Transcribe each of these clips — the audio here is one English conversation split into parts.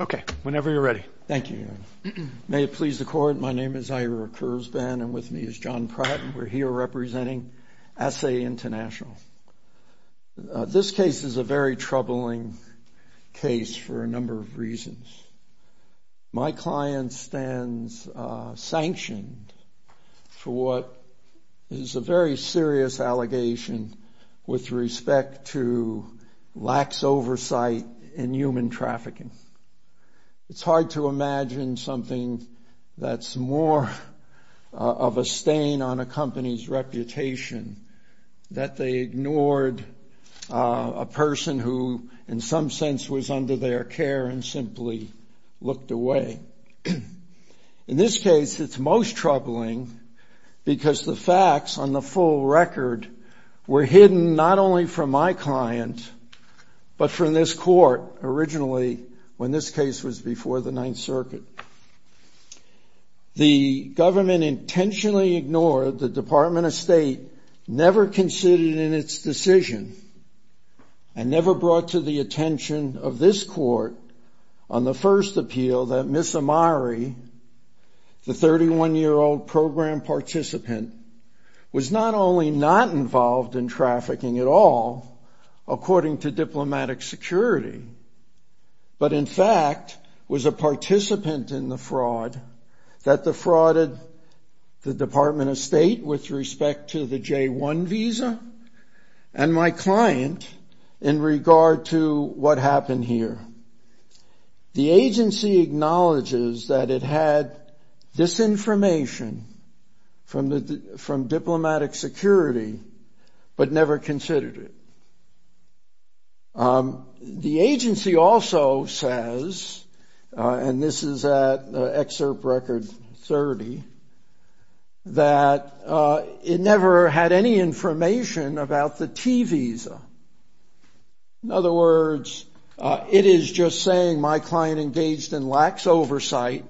Okay, whenever you're ready. Thank you. May it please the Court, my name is Ira Kurzban and with me is John Pratt. We're here representing ASSE International. This case is a very troubling case for a number of reasons. My client stands sanctioned for what is a very serious allegation with respect to lax oversight in human trafficking. It's hard to imagine something that's more of a stain on a company's reputation that they ignored a person who in some sense was under their care and simply looked away. In this case, it's most troubling because the facts on the full record were hidden not only from my client, but from this Court originally when this case was before the Ninth Circuit. The government intentionally ignored the Department of State, never considered it in its decision, and never brought to the attention of this Court on the first appeal that Ms. Amari, the 31-year-old program participant, was not only not involved in trafficking at all, according to diplomatic security, but in fact was a participant in the fraud that defrauded the Department of State with respect to the J-1 visa and my client in regard to what happened here. The agency acknowledges that it had disinformation from diplomatic security, but never considered it. The agency also says, and this is at Excerpt Record 30, that it never had any information about the T visa. In other words, it is just saying my client engaged in lax oversight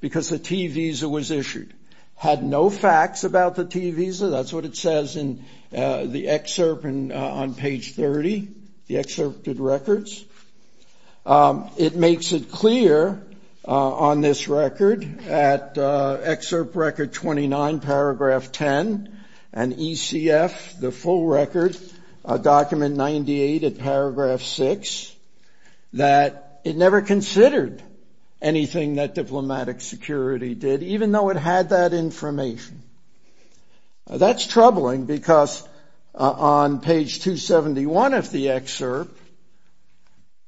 because the T visa was issued. Had no facts about the T visa, that's what it says in the excerpt on page 30, the excerpted records. It makes it clear on this record at Excerpt Record 29, paragraph 10, and ECF, the full record, document 98 at paragraph 6, that it never considered anything that diplomatic security did, even though it had the facts. It never had that information. That's troubling because on page 271 of the excerpt,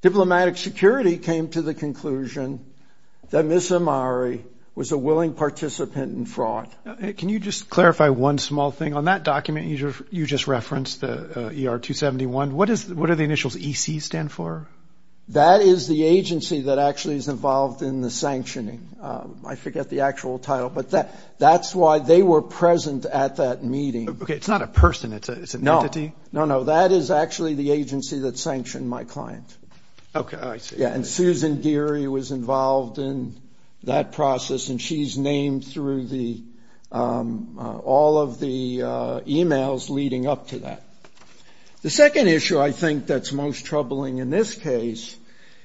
diplomatic security came to the conclusion that Ms. Amari was a willing participant in fraud. Can you just clarify one small thing? On that document you just referenced, the ER-271, what do the initials EC stand for? That is the agency that actually is involved in the sanctioning. I forget the actual title, but that's why they were present at that meeting. Okay, it's not a person, it's an entity? No, no, that is actually the agency that sanctioned my client. Okay, I see. Yeah, and Susan Geary was involved in that process, and she's named through all of the e-mails leading up to that. The purpose of this case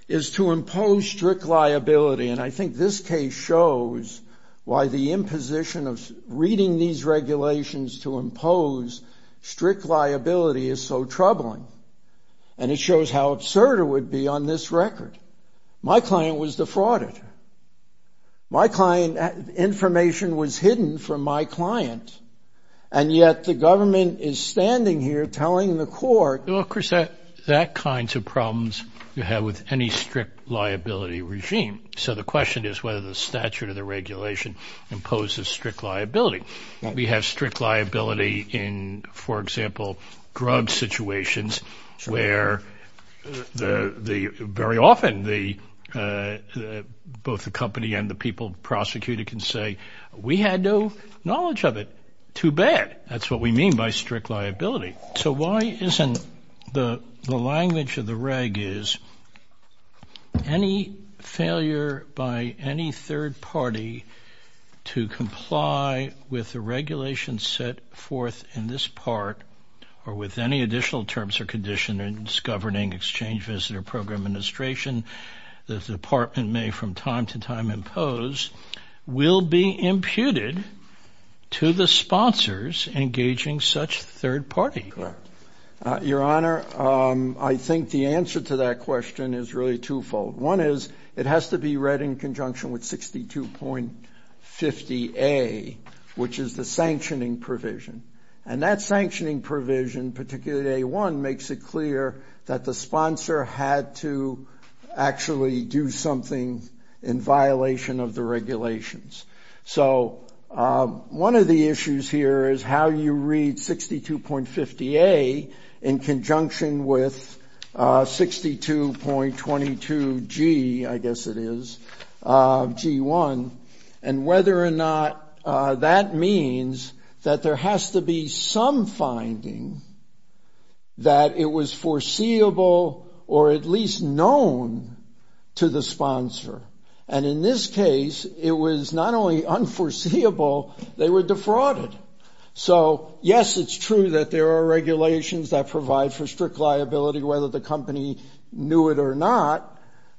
is to impose strict liability, and I think this case shows why the imposition of reading these regulations to impose strict liability is so troubling. And it shows how absurd it would be on this record. My client was the fraud. My client, information was hidden from my client, and yet the government is standing here telling the court... ...what kinds of problems you have with any strict liability regime. So the question is whether the statute or the regulation imposes strict liability. We have strict liability in, for example, drug situations where very often both the company and the people prosecuted can say, we had no knowledge of it. Too bad. That's what we mean by strict liability. So why isn't the language of the reg is any failure by any third party to comply with the regulations set forth in this part, or with any additional terms or conditions governing exchange visitor program administration, the department may from time to time impose, will be imputed to the sponsors engaging such third parties. Your Honor, I think the answer to that question is really twofold. One is it has to be read in conjunction with 62.50A, which is the sanctioning provision. And that sanctioning provision, particularly A1, makes it clear that the sponsor had to actually do something in violation of the regulations. So one of the issues here is how you read 62.50A in conjunction with 62.22G, I guess it is, G1, and whether or not that means that there has to be some finding that it was foreseeable or at least known to the sponsor. And in this case, it was not only unforeseeable, they were defrauded. So, yes, it's true that there are regulations that provide for strict liability, whether the company knew it or not.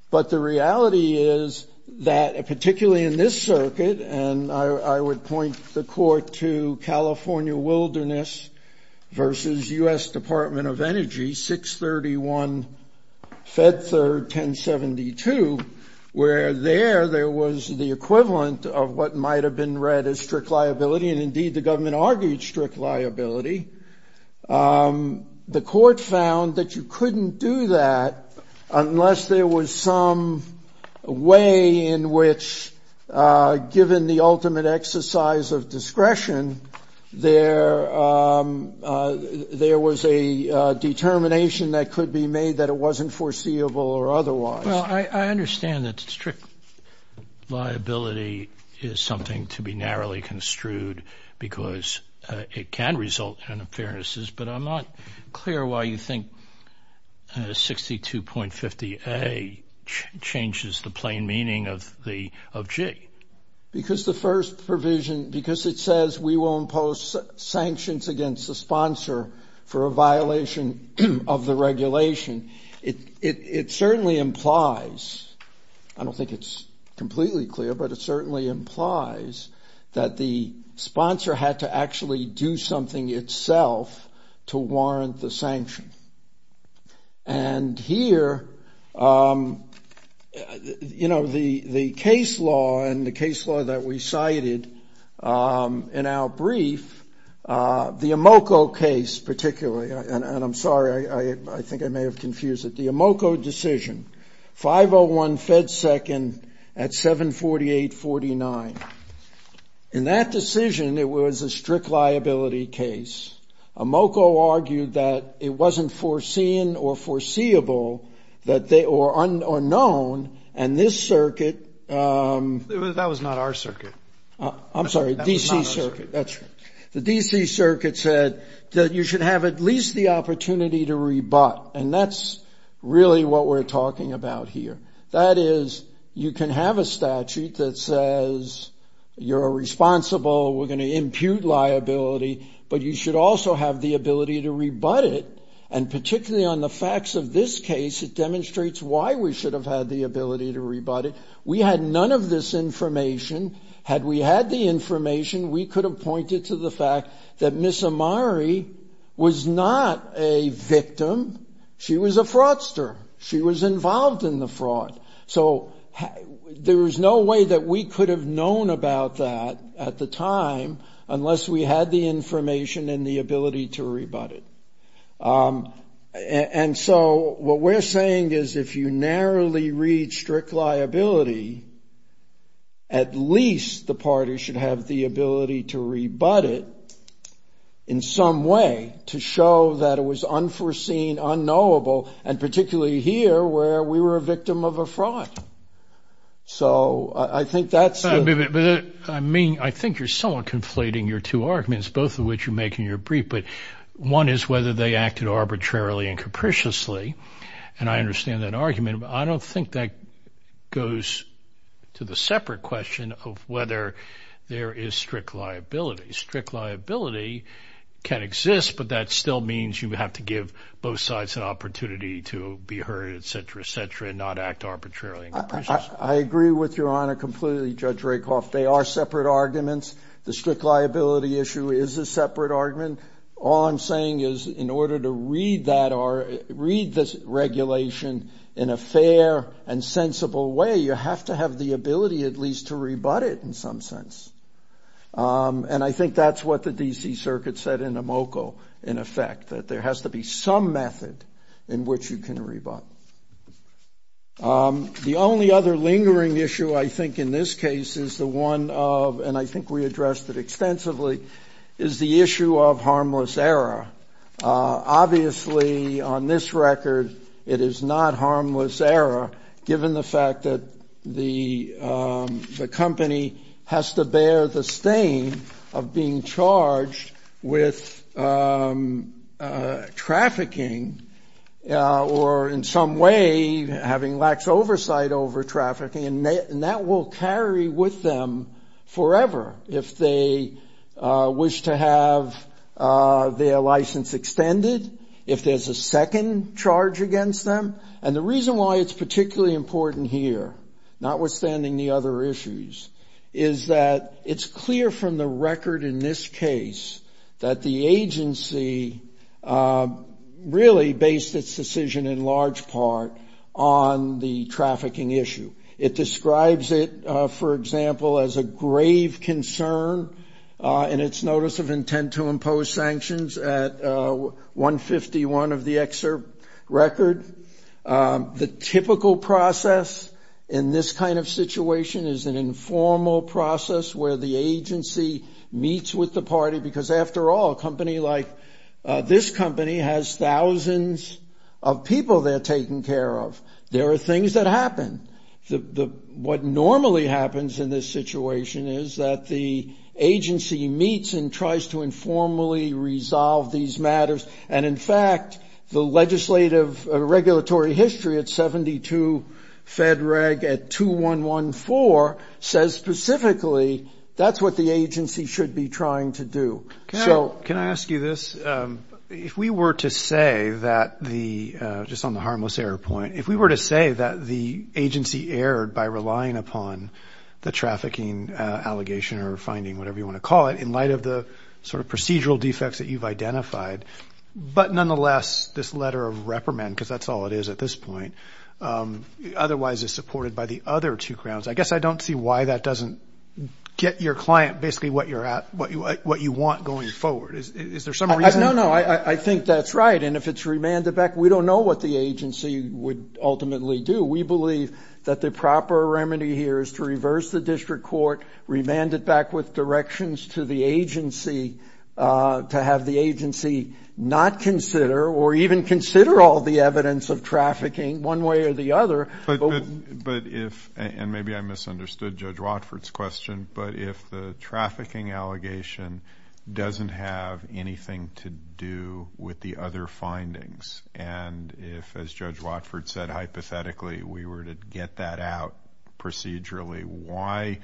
But the reality is that, particularly in this circuit, and I would point the court to California Wilderness versus U.S. Department of Energy, 631 Fed 3rd, 1072, where there, there was the equivalent of what might have been read as strict liability. And, indeed, the government argued strict liability. The court found that you couldn't do that unless there was some way in which, given the ultimate exercise of discretion, there was a determination that could be made that it wasn't foreseeable or otherwise. Well, I understand that strict liability is something to be narrowly construed because it can result in unfairnesses, but I'm not clear why you think 62.50A changes the plain meaning of the, of G. Because the first provision, because it says we will impose sanctions against the sponsor for a violation of the regulation, it certainly implies, I don't think it's completely clear, but it certainly implies that the sponsor had to actually do something itself to warrant the sanction. And here, you know, the case law and the case law that we cited in our brief, the Amoco case particularly, and I'm sorry, I think I may have confused it, the Amoco decision, 501 Fed 2nd at 748.49. In that decision, it was a strict liability case. Amoco argued that it wasn't foreseen or foreseeable that they, or unknown, and this circuit... That was not our circuit. I'm sorry, D.C. circuit, that's right. The D.C. circuit said that you should have at least the opportunity to rebut, and that's really what we're talking about here. That is, you can have a statute that says you're responsible, we're going to impute liability, but you should also have the ability to rebut it, and particularly on the facts of this case, it demonstrates why we should have had the ability to rebut it. We had none of this information. Had we had the information, we could have pointed to the fact that Ms. Amari was not a victim. She was a fraudster. She was involved in the fraud. So there was no way that we could have known about that at the time, unless we had the information and the ability to rebut it. And so what we're saying is if you narrowly read strict liability, at least the party should have the ability to rebut it in some way, to show that it was unforeseen, unknowable, and particularly here where we were a victim of a fraud. So I think that's... I mean, I think you're somewhat conflating your two arguments, both of which you make in your brief, but one is whether they acted arbitrarily and capriciously, and I understand that argument, but I don't think that goes to the separate question of whether there is strict liability. Strict liability can exist, but that still means you have to give both sides an opportunity to be heard, etc., etc., and not act arbitrarily and capriciously. I agree with Your Honor completely, Judge Rakoff. They are separate arguments. The strict liability issue is a separate argument. All I'm saying is in order to read that or read this regulation in a fair and sensible way, you have to have the ability at least to rebut it in some sense. And I think that's what the D.C. Circuit said in Amoco, in effect, that there has to be some method in which you can rebut. The only other lingering issue I think in this case is the one of, and I think we addressed it extensively, is the issue of harmless error. Obviously, on this record, it is not harmless error given the fact that the company has to bear the stain of being charged with trafficking or in some way having lax oversight over trafficking, and that will carry with them forever if they wish to have their license extended, if there's a second charge against them. And the reason why it's particularly important here, notwithstanding the other issues, is that it's clear from the record in this case that the agency really based its decision in large part on the trafficking issue. It describes it, for example, as a grave concern in its notice of intent to impose sanctions at 151 of the excerpt record. The typical process in this kind of situation is an informal process where the agency meets with the party, because after all, a company like this company has thousands of people they're taking care of. There are things that happen. What normally happens in this situation is that the agency meets and tries to informally resolve these matters, and in fact, the legislative regulatory history at 72 FEDREG at 2114 says specifically that's what the agency should be trying to do. So... Can I ask you this? If we were to say that the, just on the harmless error point, if we were to say that the agency erred by relying upon the trafficking allegation or finding, whatever you want to call it, in light of the sort of procedural defects that you've identified, but nonetheless this letter of reprimand, because that's all it is at this point, otherwise is supported by the other two grounds, I guess I don't see why that doesn't get your client basically what you want going forward. No, no, I think that's right, and if it's remanded back, we don't know what the agency would ultimately do. We believe that the proper remedy here is to reverse the district court, remand it back with directions to the agency to have the agency not consider, or even consider all the evidence of trafficking one way or the other. But if, and maybe I misunderstood Judge Watford's question, but if the trafficking allegation doesn't have anything to do with the other findings, and if, as Judge Watford said, hypothetically we were to get that out procedurally, why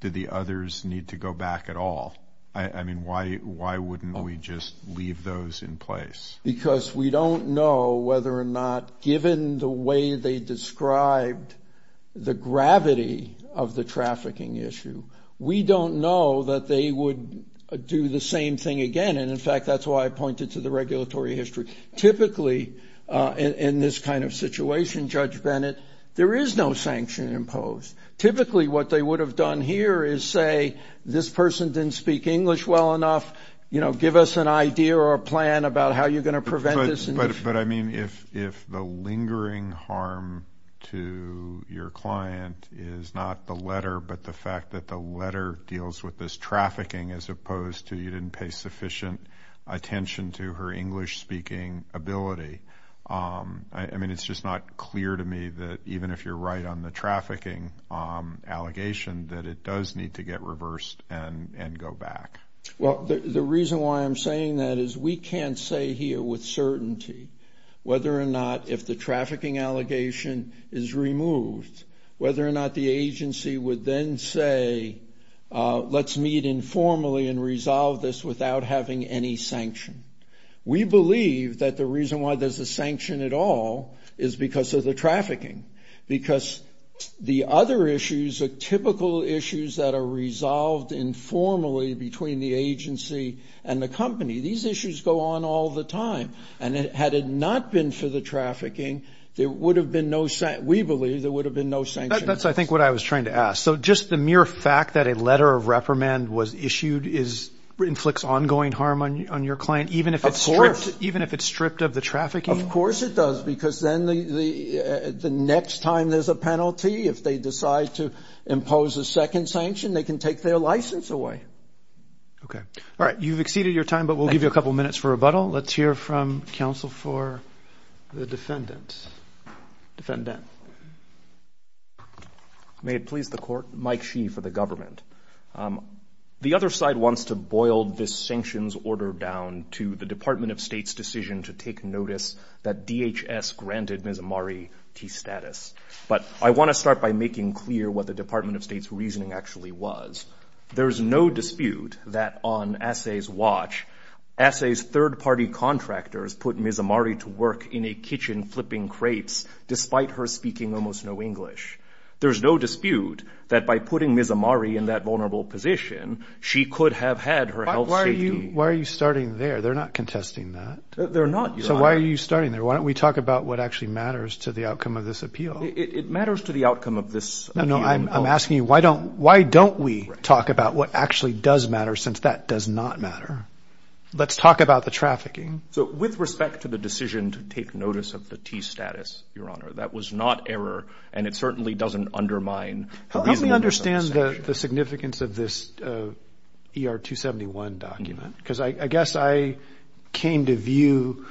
did the others need to go back at all? I mean, why wouldn't we just leave those in place? Because we don't know whether or not, given the way they described the gravity of the trafficking issue, we don't know that they would do the same thing again, and in fact that's why I pointed to the regulatory history. Typically in this kind of situation, Judge Bennett, there is no sanction imposed. Typically what they would have done here is say, this person didn't speak English well enough, give us an idea or a plan about how you're going to prevent this. But I mean, if the lingering harm to your client is not the letter, but the fact that the letter deals with this trafficking as opposed to you didn't pay sufficient attention to her English-speaking ability, I mean, it's just not clear to me that even if you're right on the trafficking allegation, that it does need to get reversed and go back. Well, the reason why I'm saying that is we can't say here with certainty whether or not if the trafficking allegation is removed, whether or not the agency would then say, let's meet informally and resolve this without having any sanction. We believe that the reason why there's a sanction at all is because of the trafficking, because the other issues are typical issues that are resolved informally between the agency and the company. These issues go on all the time. And had it not been for the trafficking, we believe there would have been no sanctions. That's, I think, what I was trying to ask. So just the mere fact that a letter of reprimand was issued inflicts ongoing harm on your client, even if it's stripped of the trafficking? Of course it does, because then the next time there's a penalty, if they decide to impose a second sanction, they can take their license away. Okay. All right. You've exceeded your time, but we'll give you a couple of minutes for rebuttal. Let's hear from counsel for the defendant. May it please the court. Mike Shee for the government. The other side wants to boil this sanctions order down to the Department of State's decision to take notice that DHS granted Ms. Amari T. status. But I want to start by making clear what the Department of State's reasoning actually was. There's no dispute that on Assay's watch, Assay's third-party contractors put Ms. Amari to work in a kitchen flipping crates, despite her speaking almost no English. There's no dispute that by putting Ms. Amari in that vulnerable position, she could have had her health safety... Why are you starting there? They're not contesting that. So why are you starting there? Why don't we talk about what actually matters to the outcome of this appeal? It matters to the outcome of this appeal. No, no. I'm asking you, why don't we talk about what actually does matter, since that does not matter? Let's talk about the trafficking. So with respect to the decision to take notice of the T status, Your Honor, that was not error, and it certainly doesn't undermine... Help me understand the significance of this ER 271 document. Because I guess I came to view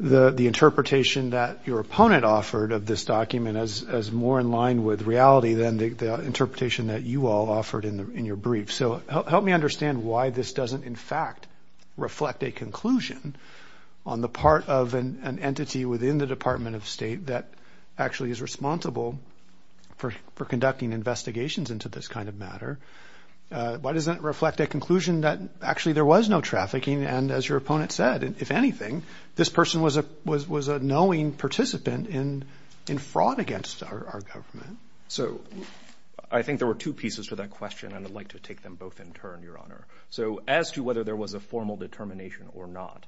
the interpretation that your opponent offered of this document as more in line with reality than the interpretation that you all offered in your brief. So help me understand why this doesn't, in fact, reflect a conclusion on the part of an entity within the Department of State that actually is responsible for conducting investigations in this case. Why doesn't it reflect a conclusion that actually there was no trafficking, and as your opponent said, if anything, this person was a knowing participant in fraud against our government. So I think there were two pieces to that question, and I'd like to take them both in turn, Your Honor. So as to whether there was a formal determination or not,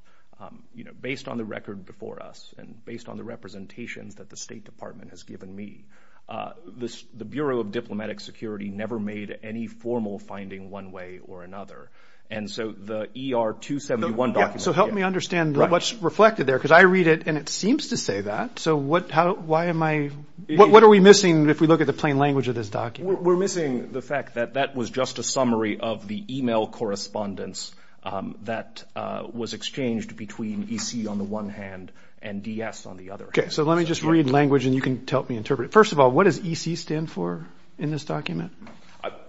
based on the record before us and based on the representations that the State Department has given me, the Bureau of Diplomatic Security never made any formal finding one way or another. And so the ER 271 document... So help me understand what's reflected there, because I read it, and it seems to say that. So what are we missing if we look at the plain language of this document? We're missing the fact that that was just a summary of the email correspondence that was exchanged between EC on the one hand and DS on the other. Okay, so let me just read language, and you can help me interpret it. First of all, what does EC stand for in this document?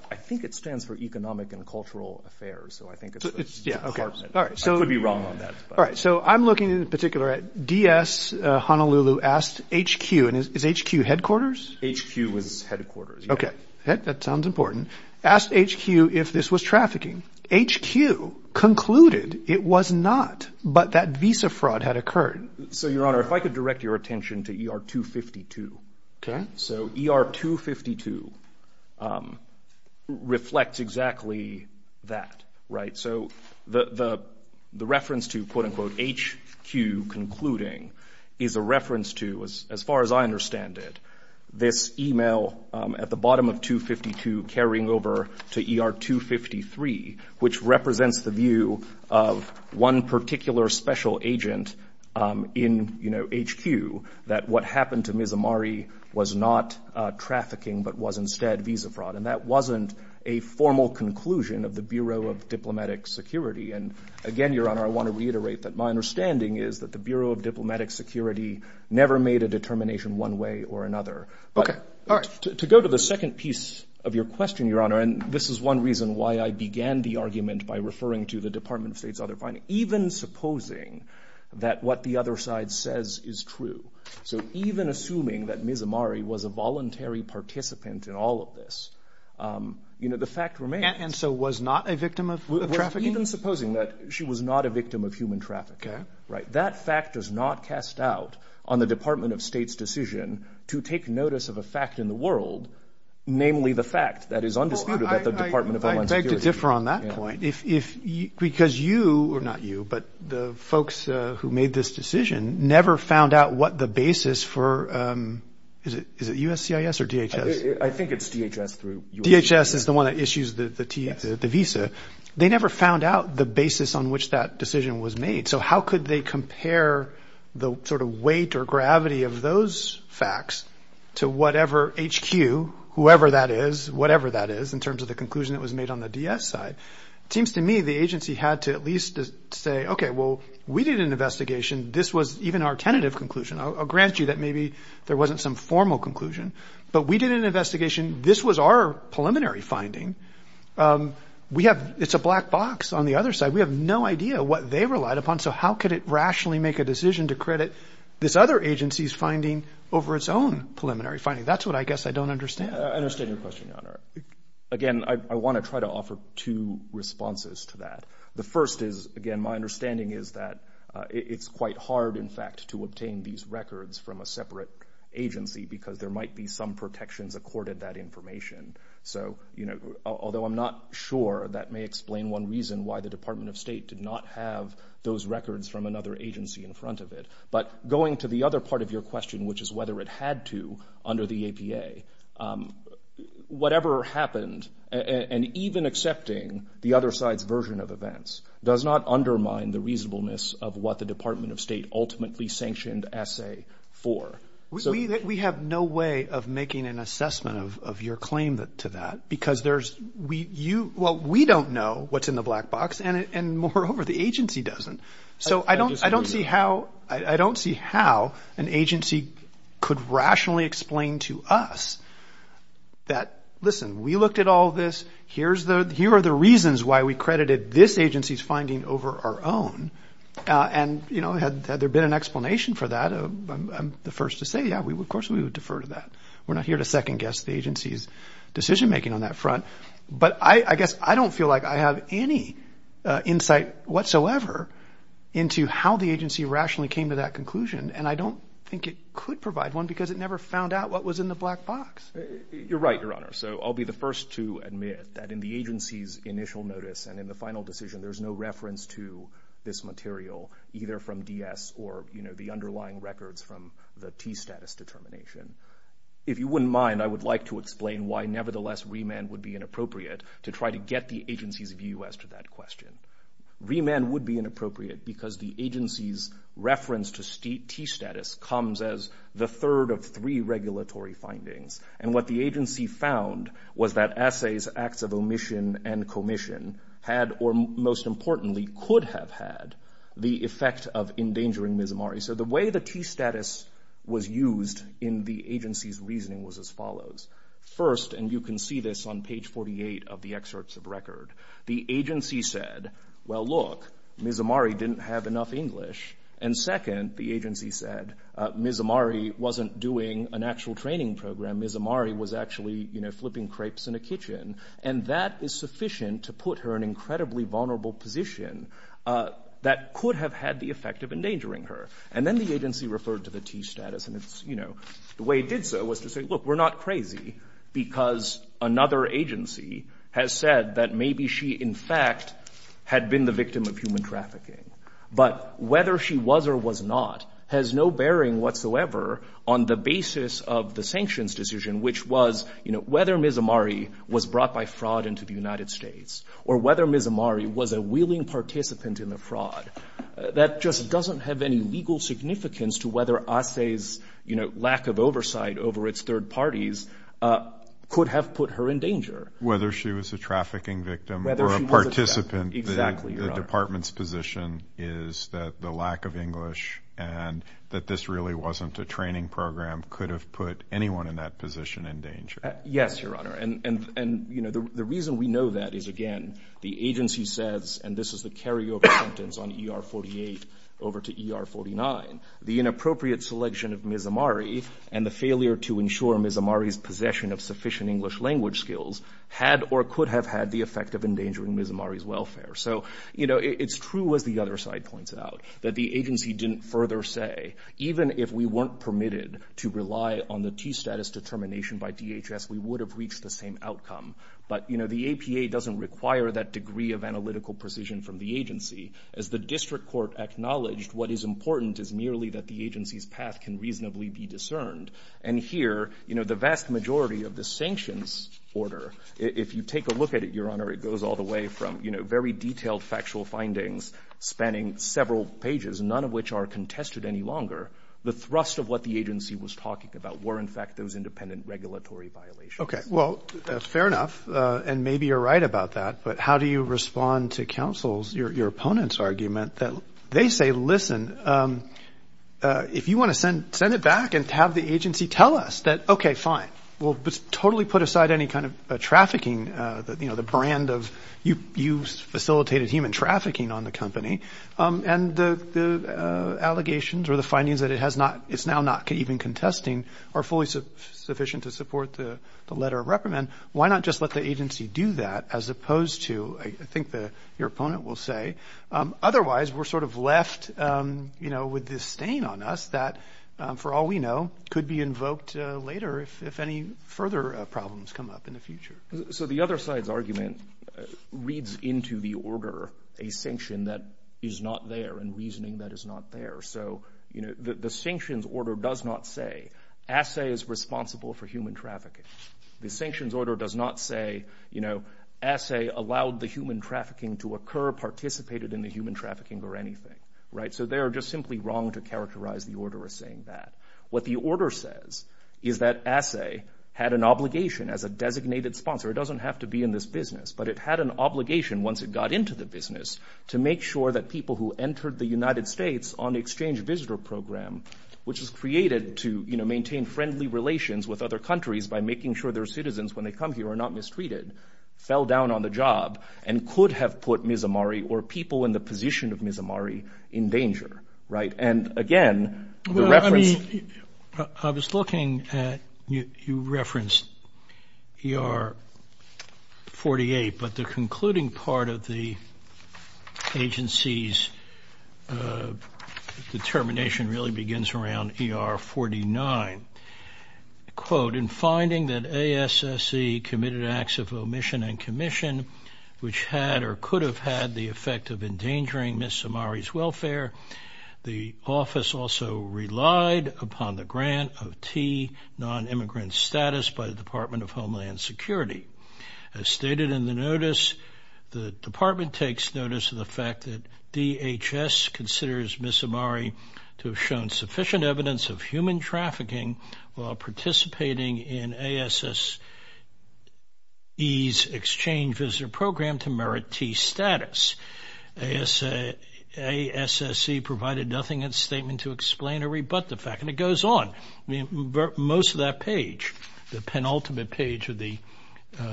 I think it stands for Economic and Cultural Affairs, so I think it's the department. I could be wrong on that. All right, so I'm looking in particular at DS Honolulu asked HQ, and is HQ headquarters? HQ is headquarters, yes. Okay, that sounds important. Asked HQ if this was trafficking. HQ concluded it was not, but that visa fraud had occurred. So, Your Honor, if I could direct your attention to ER 252. Okay. So ER 252 reflects exactly that, right? So the reference to, quote, unquote, HQ concluding is a reference to, as far as I understand it, this email at the bottom of 252 carrying over to ER 253, which represents the view of one particular special agent in, you know, HQ, that what happened to Ms. Amari was not trafficking but was instead visa fraud. And that wasn't a formal conclusion of the Bureau of Diplomatic Security. And again, Your Honor, I want to reiterate that my understanding is that the Bureau of Diplomatic Security never made a determination one way or another. Okay, all right. To go to the second piece of your question, Your Honor, and this is one reason why I began the argument by referring to the Department of State's other finding. Even supposing that what the other side says is true, so even assuming that Ms. Amari was a voluntary participant in all of this, you know, the fact remains. And so was not a victim of trafficking? Even supposing that she was not a victim of human trafficking. Okay. Right. That fact does not cast doubt on the Department of State's decision to take notice of a fact in the world, namely the fact that is undisputed that the Department of Homeland Security. Well, I beg to differ on that point. Because you, or not you, but the folks who made this decision never found out what the basis for, is it USCIS or DHS? I think it's DHS through USCIS. DHS is the one that issues the visa. They never found out the basis on which that decision was made. So how could they compare the sort of weight or gravity of those facts to whatever HQ, whoever that is, whatever that is, in terms of the conclusion that was made on the DS side? It seems to me the agency had to at least say, okay, well, we did an investigation. This was even our tentative conclusion. I'll grant you that maybe there wasn't some formal conclusion. But we did an investigation. This was our preliminary finding. We have, it's a black box on the other side. We have no idea what they relied upon. So how could it rationally make a decision to credit this other agency's finding over its own preliminary finding? That's what I guess I don't understand. I understand your question, Your Honor. Again, I want to try to offer two responses to that. The first is, again, my understanding is that it's quite hard, in fact, to obtain these records from a separate agency. Because there might be some protections accorded that information. So, you know, although I'm not sure that may explain one reason why the Department of State did not have those records from another agency in front of it. But going to the other part of your question, which is whether it had to under the APA, whatever happened, and even accepting the other side's version of events, does not undermine the reasonableness of what the Department of State ultimately sanctioned S.A. for. We have no way of making an assessment of your claim to that. Because there's, well, we don't know what's in the black box. And moreover, the agency doesn't. So I don't see how an agency could rationally explain to us that, listen, we looked at all this. Here are the reasons why we credited this agency's finding over our own. And, you know, had there been an explanation for that, I'm the first to say, yeah, of course we would defer to that. We're not here to second-guess the agency's decision-making on that front. But I guess I don't feel like I have any insight whatsoever into how the agency rationally came to that conclusion. And I don't think it could provide one, because it never found out what was in the black box. You're right, Your Honor. So I'll be the first to admit that in the agency's initial notice and in the final decision, there's no reference to this material, either from DS or, you know, the underlying records from the T-status determination. If you wouldn't mind, I would like to explain why, nevertheless, remand would be inappropriate to try to get the agency's view as to that question. Remand would be inappropriate because the agency's reference to T-status comes as the third of three regulatory findings. And what the agency found was that assays, acts of omission, and commission had or, most importantly, could have had the effect of endangering Mismari. So the way the T-status was used in the agency's case follows. First, and you can see this on page 48 of the excerpts of record, the agency said, well, look, Mismari didn't have enough English. And second, the agency said, Mismari wasn't doing an actual training program. Mismari was actually, you know, flipping crepes in a kitchen. And that is sufficient to put her in an incredibly vulnerable position that could have had the effect of endangering her. And then the agency referred to the T-status, and it's, you know, the way it did so was to say, look, we're not crazy because another agency has said that maybe she, in fact, had been the victim of human trafficking. But whether she was or was not has no bearing whatsoever on the basis of the sanctions decision, which was, you know, whether Mismari was brought by fraud into the United States or whether Mismari was a willing participant in the fraud. That just doesn't have any legal significance to whether lack of oversight over its third parties could have put her in danger. Whether she was a trafficking victim or a participant, the department's position is that the lack of English and that this really wasn't a training program could have put anyone in that position in danger. Yes, Your Honor. And, you know, the reason we know that is, again, the agency says, and this is the carryover sentence on ER 48 over to ER 49, the inappropriate selection of Mismari and the failure to ensure Mismari's possession of sufficient English language skills had or could have had the effect of endangering Mismari's welfare. So, you know, it's true, as the other side points out, that the agency didn't further say, even if we weren't permitted to rely on the T-status determination by DHS, we would have reached the same outcome. But, you know, the APA doesn't require that degree of analytical precision from the agency. As the district court acknowledged, what is important is merely that the agency's path can reasonably be discerned. And here, you know, the vast majority of the sanctions order, if you take a look at it, Your Honor, it goes all the way from, you know, very detailed factual findings spanning several pages, none of which are contested any longer. The thrust of what the agency was talking about were, in fact, those independent regulatory violations. Okay. Well, fair enough. And maybe you're right about that. But how do you respond to counsel's, your opponent's argument that they say, listen, if you want to send it back and have the agency tell us that, okay, fine, we'll totally put aside any kind of trafficking, you know, the brand of you facilitated human trafficking on the company, and the allegations or the findings that it has not, it's now not even contesting are fully sufficient to support the letter of reprimand, why not just let the agency do that as opposed to, I think your opponent will say. Otherwise, we're sort of left with this stain on us that, for all we know, could be invoked later if any further problems come up in the future. So the other side's argument reads into the order a sanction that is not there and reasoning that is not there. So the sanctions order does not say assay is responsible for human trafficking. The sanctions order does not say, you know, assay allowed the human trafficking to occur, participated in the human trafficking or anything, right? So they are just simply wrong to characterize the order as saying that. What the order says is that assay had an obligation as a designated sponsor. It doesn't have to be in this business, but it had an obligation once it got into the business to make sure that people who entered the United States on the exchange visitor program, which was created to, you know, maintain friendly relations with other countries by making sure their citizens when they come here are not mistreated, fell down on the job and could have put Mizamari or people in the position of Mizamari in danger, right? And again, the reference... I was looking at, you referenced ER 48, but the concluding part of the agency's determination really begins around ER 49. Quote, in finding that ASSE committed acts of omission and commission which had or could have had the effect of endangering Mizamari's welfare, the office also relied upon the grant of T, non-immigrant status by the Department of Homeland Security. As stated in the notice, the department takes notice of the fact that DHS considers Mizamari to have shown sufficient evidence of human trafficking while participating in ASSE's exchange visitor program to merit T status. ASSE provided nothing in its statement to explain or rebut the fact. And it goes on. Most of that page, the penultimate page of the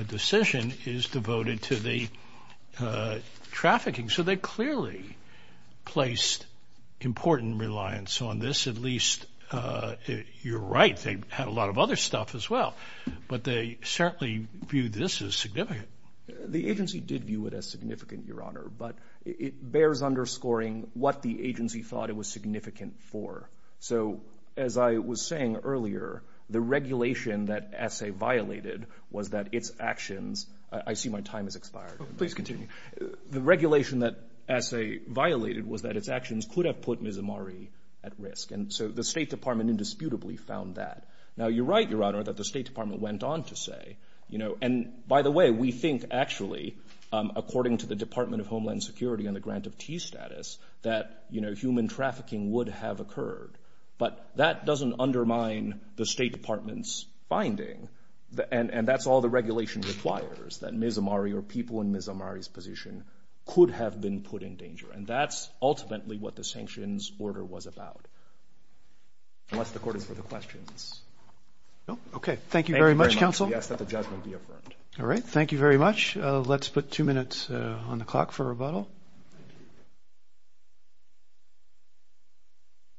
decision is devoted to the trafficking. So they clearly placed important reliance on this. At least you're right, they had a lot of other stuff as well. But they certainly viewed this as significant. The agency did view it as significant, Your Honor. But it bears underscoring what the agency thought it was significant for. So as I was saying earlier, the regulation that ASSE violated was that its actions... I see my time has expired. Please continue. The regulation that ASSE violated was that its actions could have put Mizamari at risk. And so the State Department indisputably found that. Now you're right, Your Honor, that the State Department went on to say... And by the way, we think actually according to the Department of Homeland Security and the grant of T status that human trafficking would have occurred. But that doesn't undermine the State Department's finding. And that's all the regulation requires, that Mizamari or people in Mizamari's position could have been put in danger. And that's ultimately what the sanctions order was about. Unless the Court is for the questions. No? Okay. Thank you very much, Counsel. Thank you very much. We ask that the judgment be affirmed. All right. Thank you very much. Let's put two minutes on the clock for rebuttal.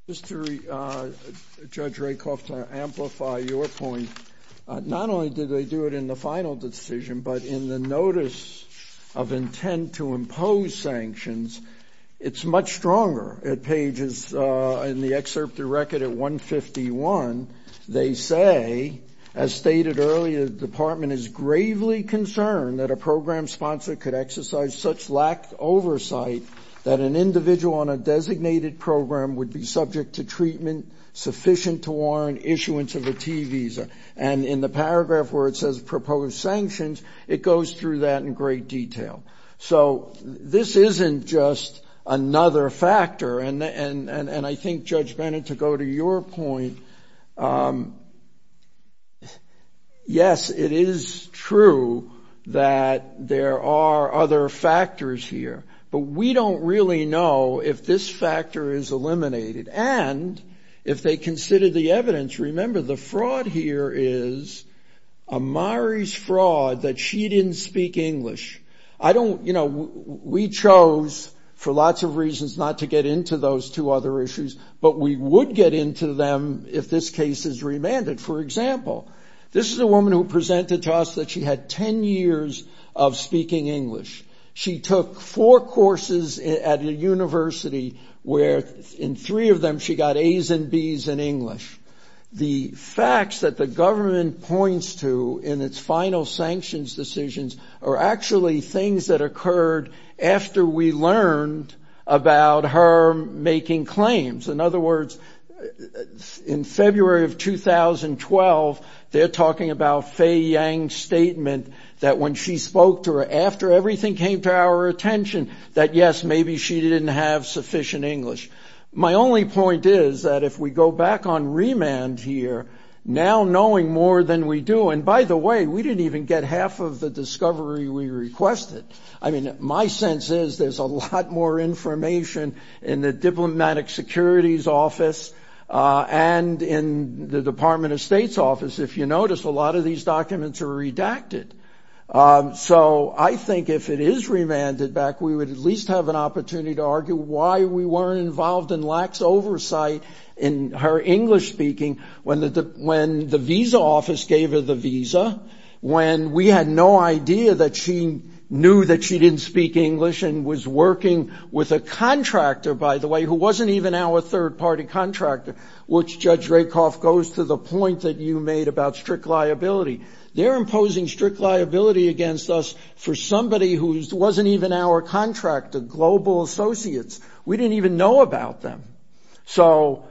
Just to... Judge Rakoff, to amplify your point, not only did they do it in the final decision, but in the paragraph where it says, First of all, the Department of Homeland Security does not intend to impose sanctions. It's much stronger at pages... In the excerpt of the record at 151, they say, as stated earlier, the Department is gravely concerned that a program sponsor could exercise such lack oversight that an individual on a designated program would be subject to treatment sufficient to warrant issuance of a T visa. And in the paragraph where it says proposed sanctions, it goes through that in great detail. So this isn't just another factor. And I think, Judge Bennett, to go to your point, yes, it is true that there are other factors here. But we don't really know if this factor is eliminated. And if they consider the evidence, remember the fraud here is Amari's fraud that she didn't speak English. We chose, for lots of reasons, not to get into those two other issues. But we would get into them if this case is remanded. For example, this is a woman who presented to us that she had 10 years of speaking English. She took four courses at a university where, in three of them, she got A's and B's in English. The facts that the government points to in its final sanctions decisions are actually things that occurred after we learned about her making claims. In other words, in February of 2012, they're that when she spoke to her, after everything came to our attention, that, yes, maybe she didn't have sufficient English. My only point is that if we go back on remand here, now knowing more than we do, and by the way, we didn't even get half of the discovery we requested. I mean, my sense is there's a lot more information in the Diplomatic Security's office and in the Department of State's office. If you notice, a lot of these documents are redacted. So I think if it is remanded back, we would at least have an opportunity to argue why we weren't involved in lax oversight in her English speaking when the visa office gave her the visa, when we had no idea that she knew that she didn't speak English and was working with a contractor, by the way, who wasn't even our third-party contractor, which, Judge Rakoff, goes to the point that you made about strict liability. They're imposing strict liability against us for somebody who wasn't even our contractor, Global Associates. We didn't even know about them. So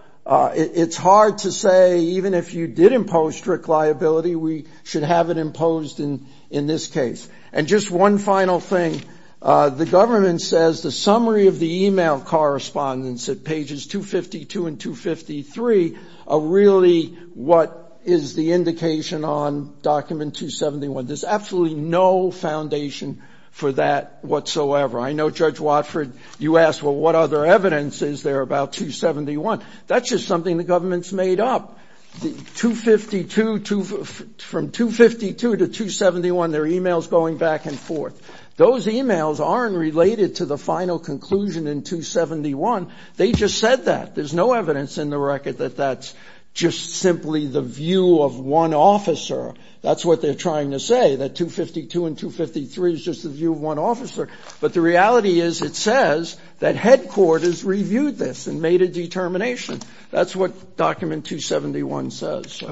it's hard to say even if you did impose strict liability, we should have it imposed in this case. And just one final thing. The government says the summary of the email correspondence at pages 252 and 253 are really what is the indication on Document 271. There's absolutely no foundation for that whatsoever. I know, Judge Watford, you asked, well, what other evidence is there about 271? That's just something the government's made up. The 252, from 252 to 271, there are emails going back and forth. Those emails aren't related to the final conclusion in 271. They just said that. There's no evidence in the record that that's just simply the view of one officer. That's what they're trying to say, that 252 and 253 is just the view of one officer. But the reality is it says that Headquarters reviewed this and made a determination. That's what Document 271 says.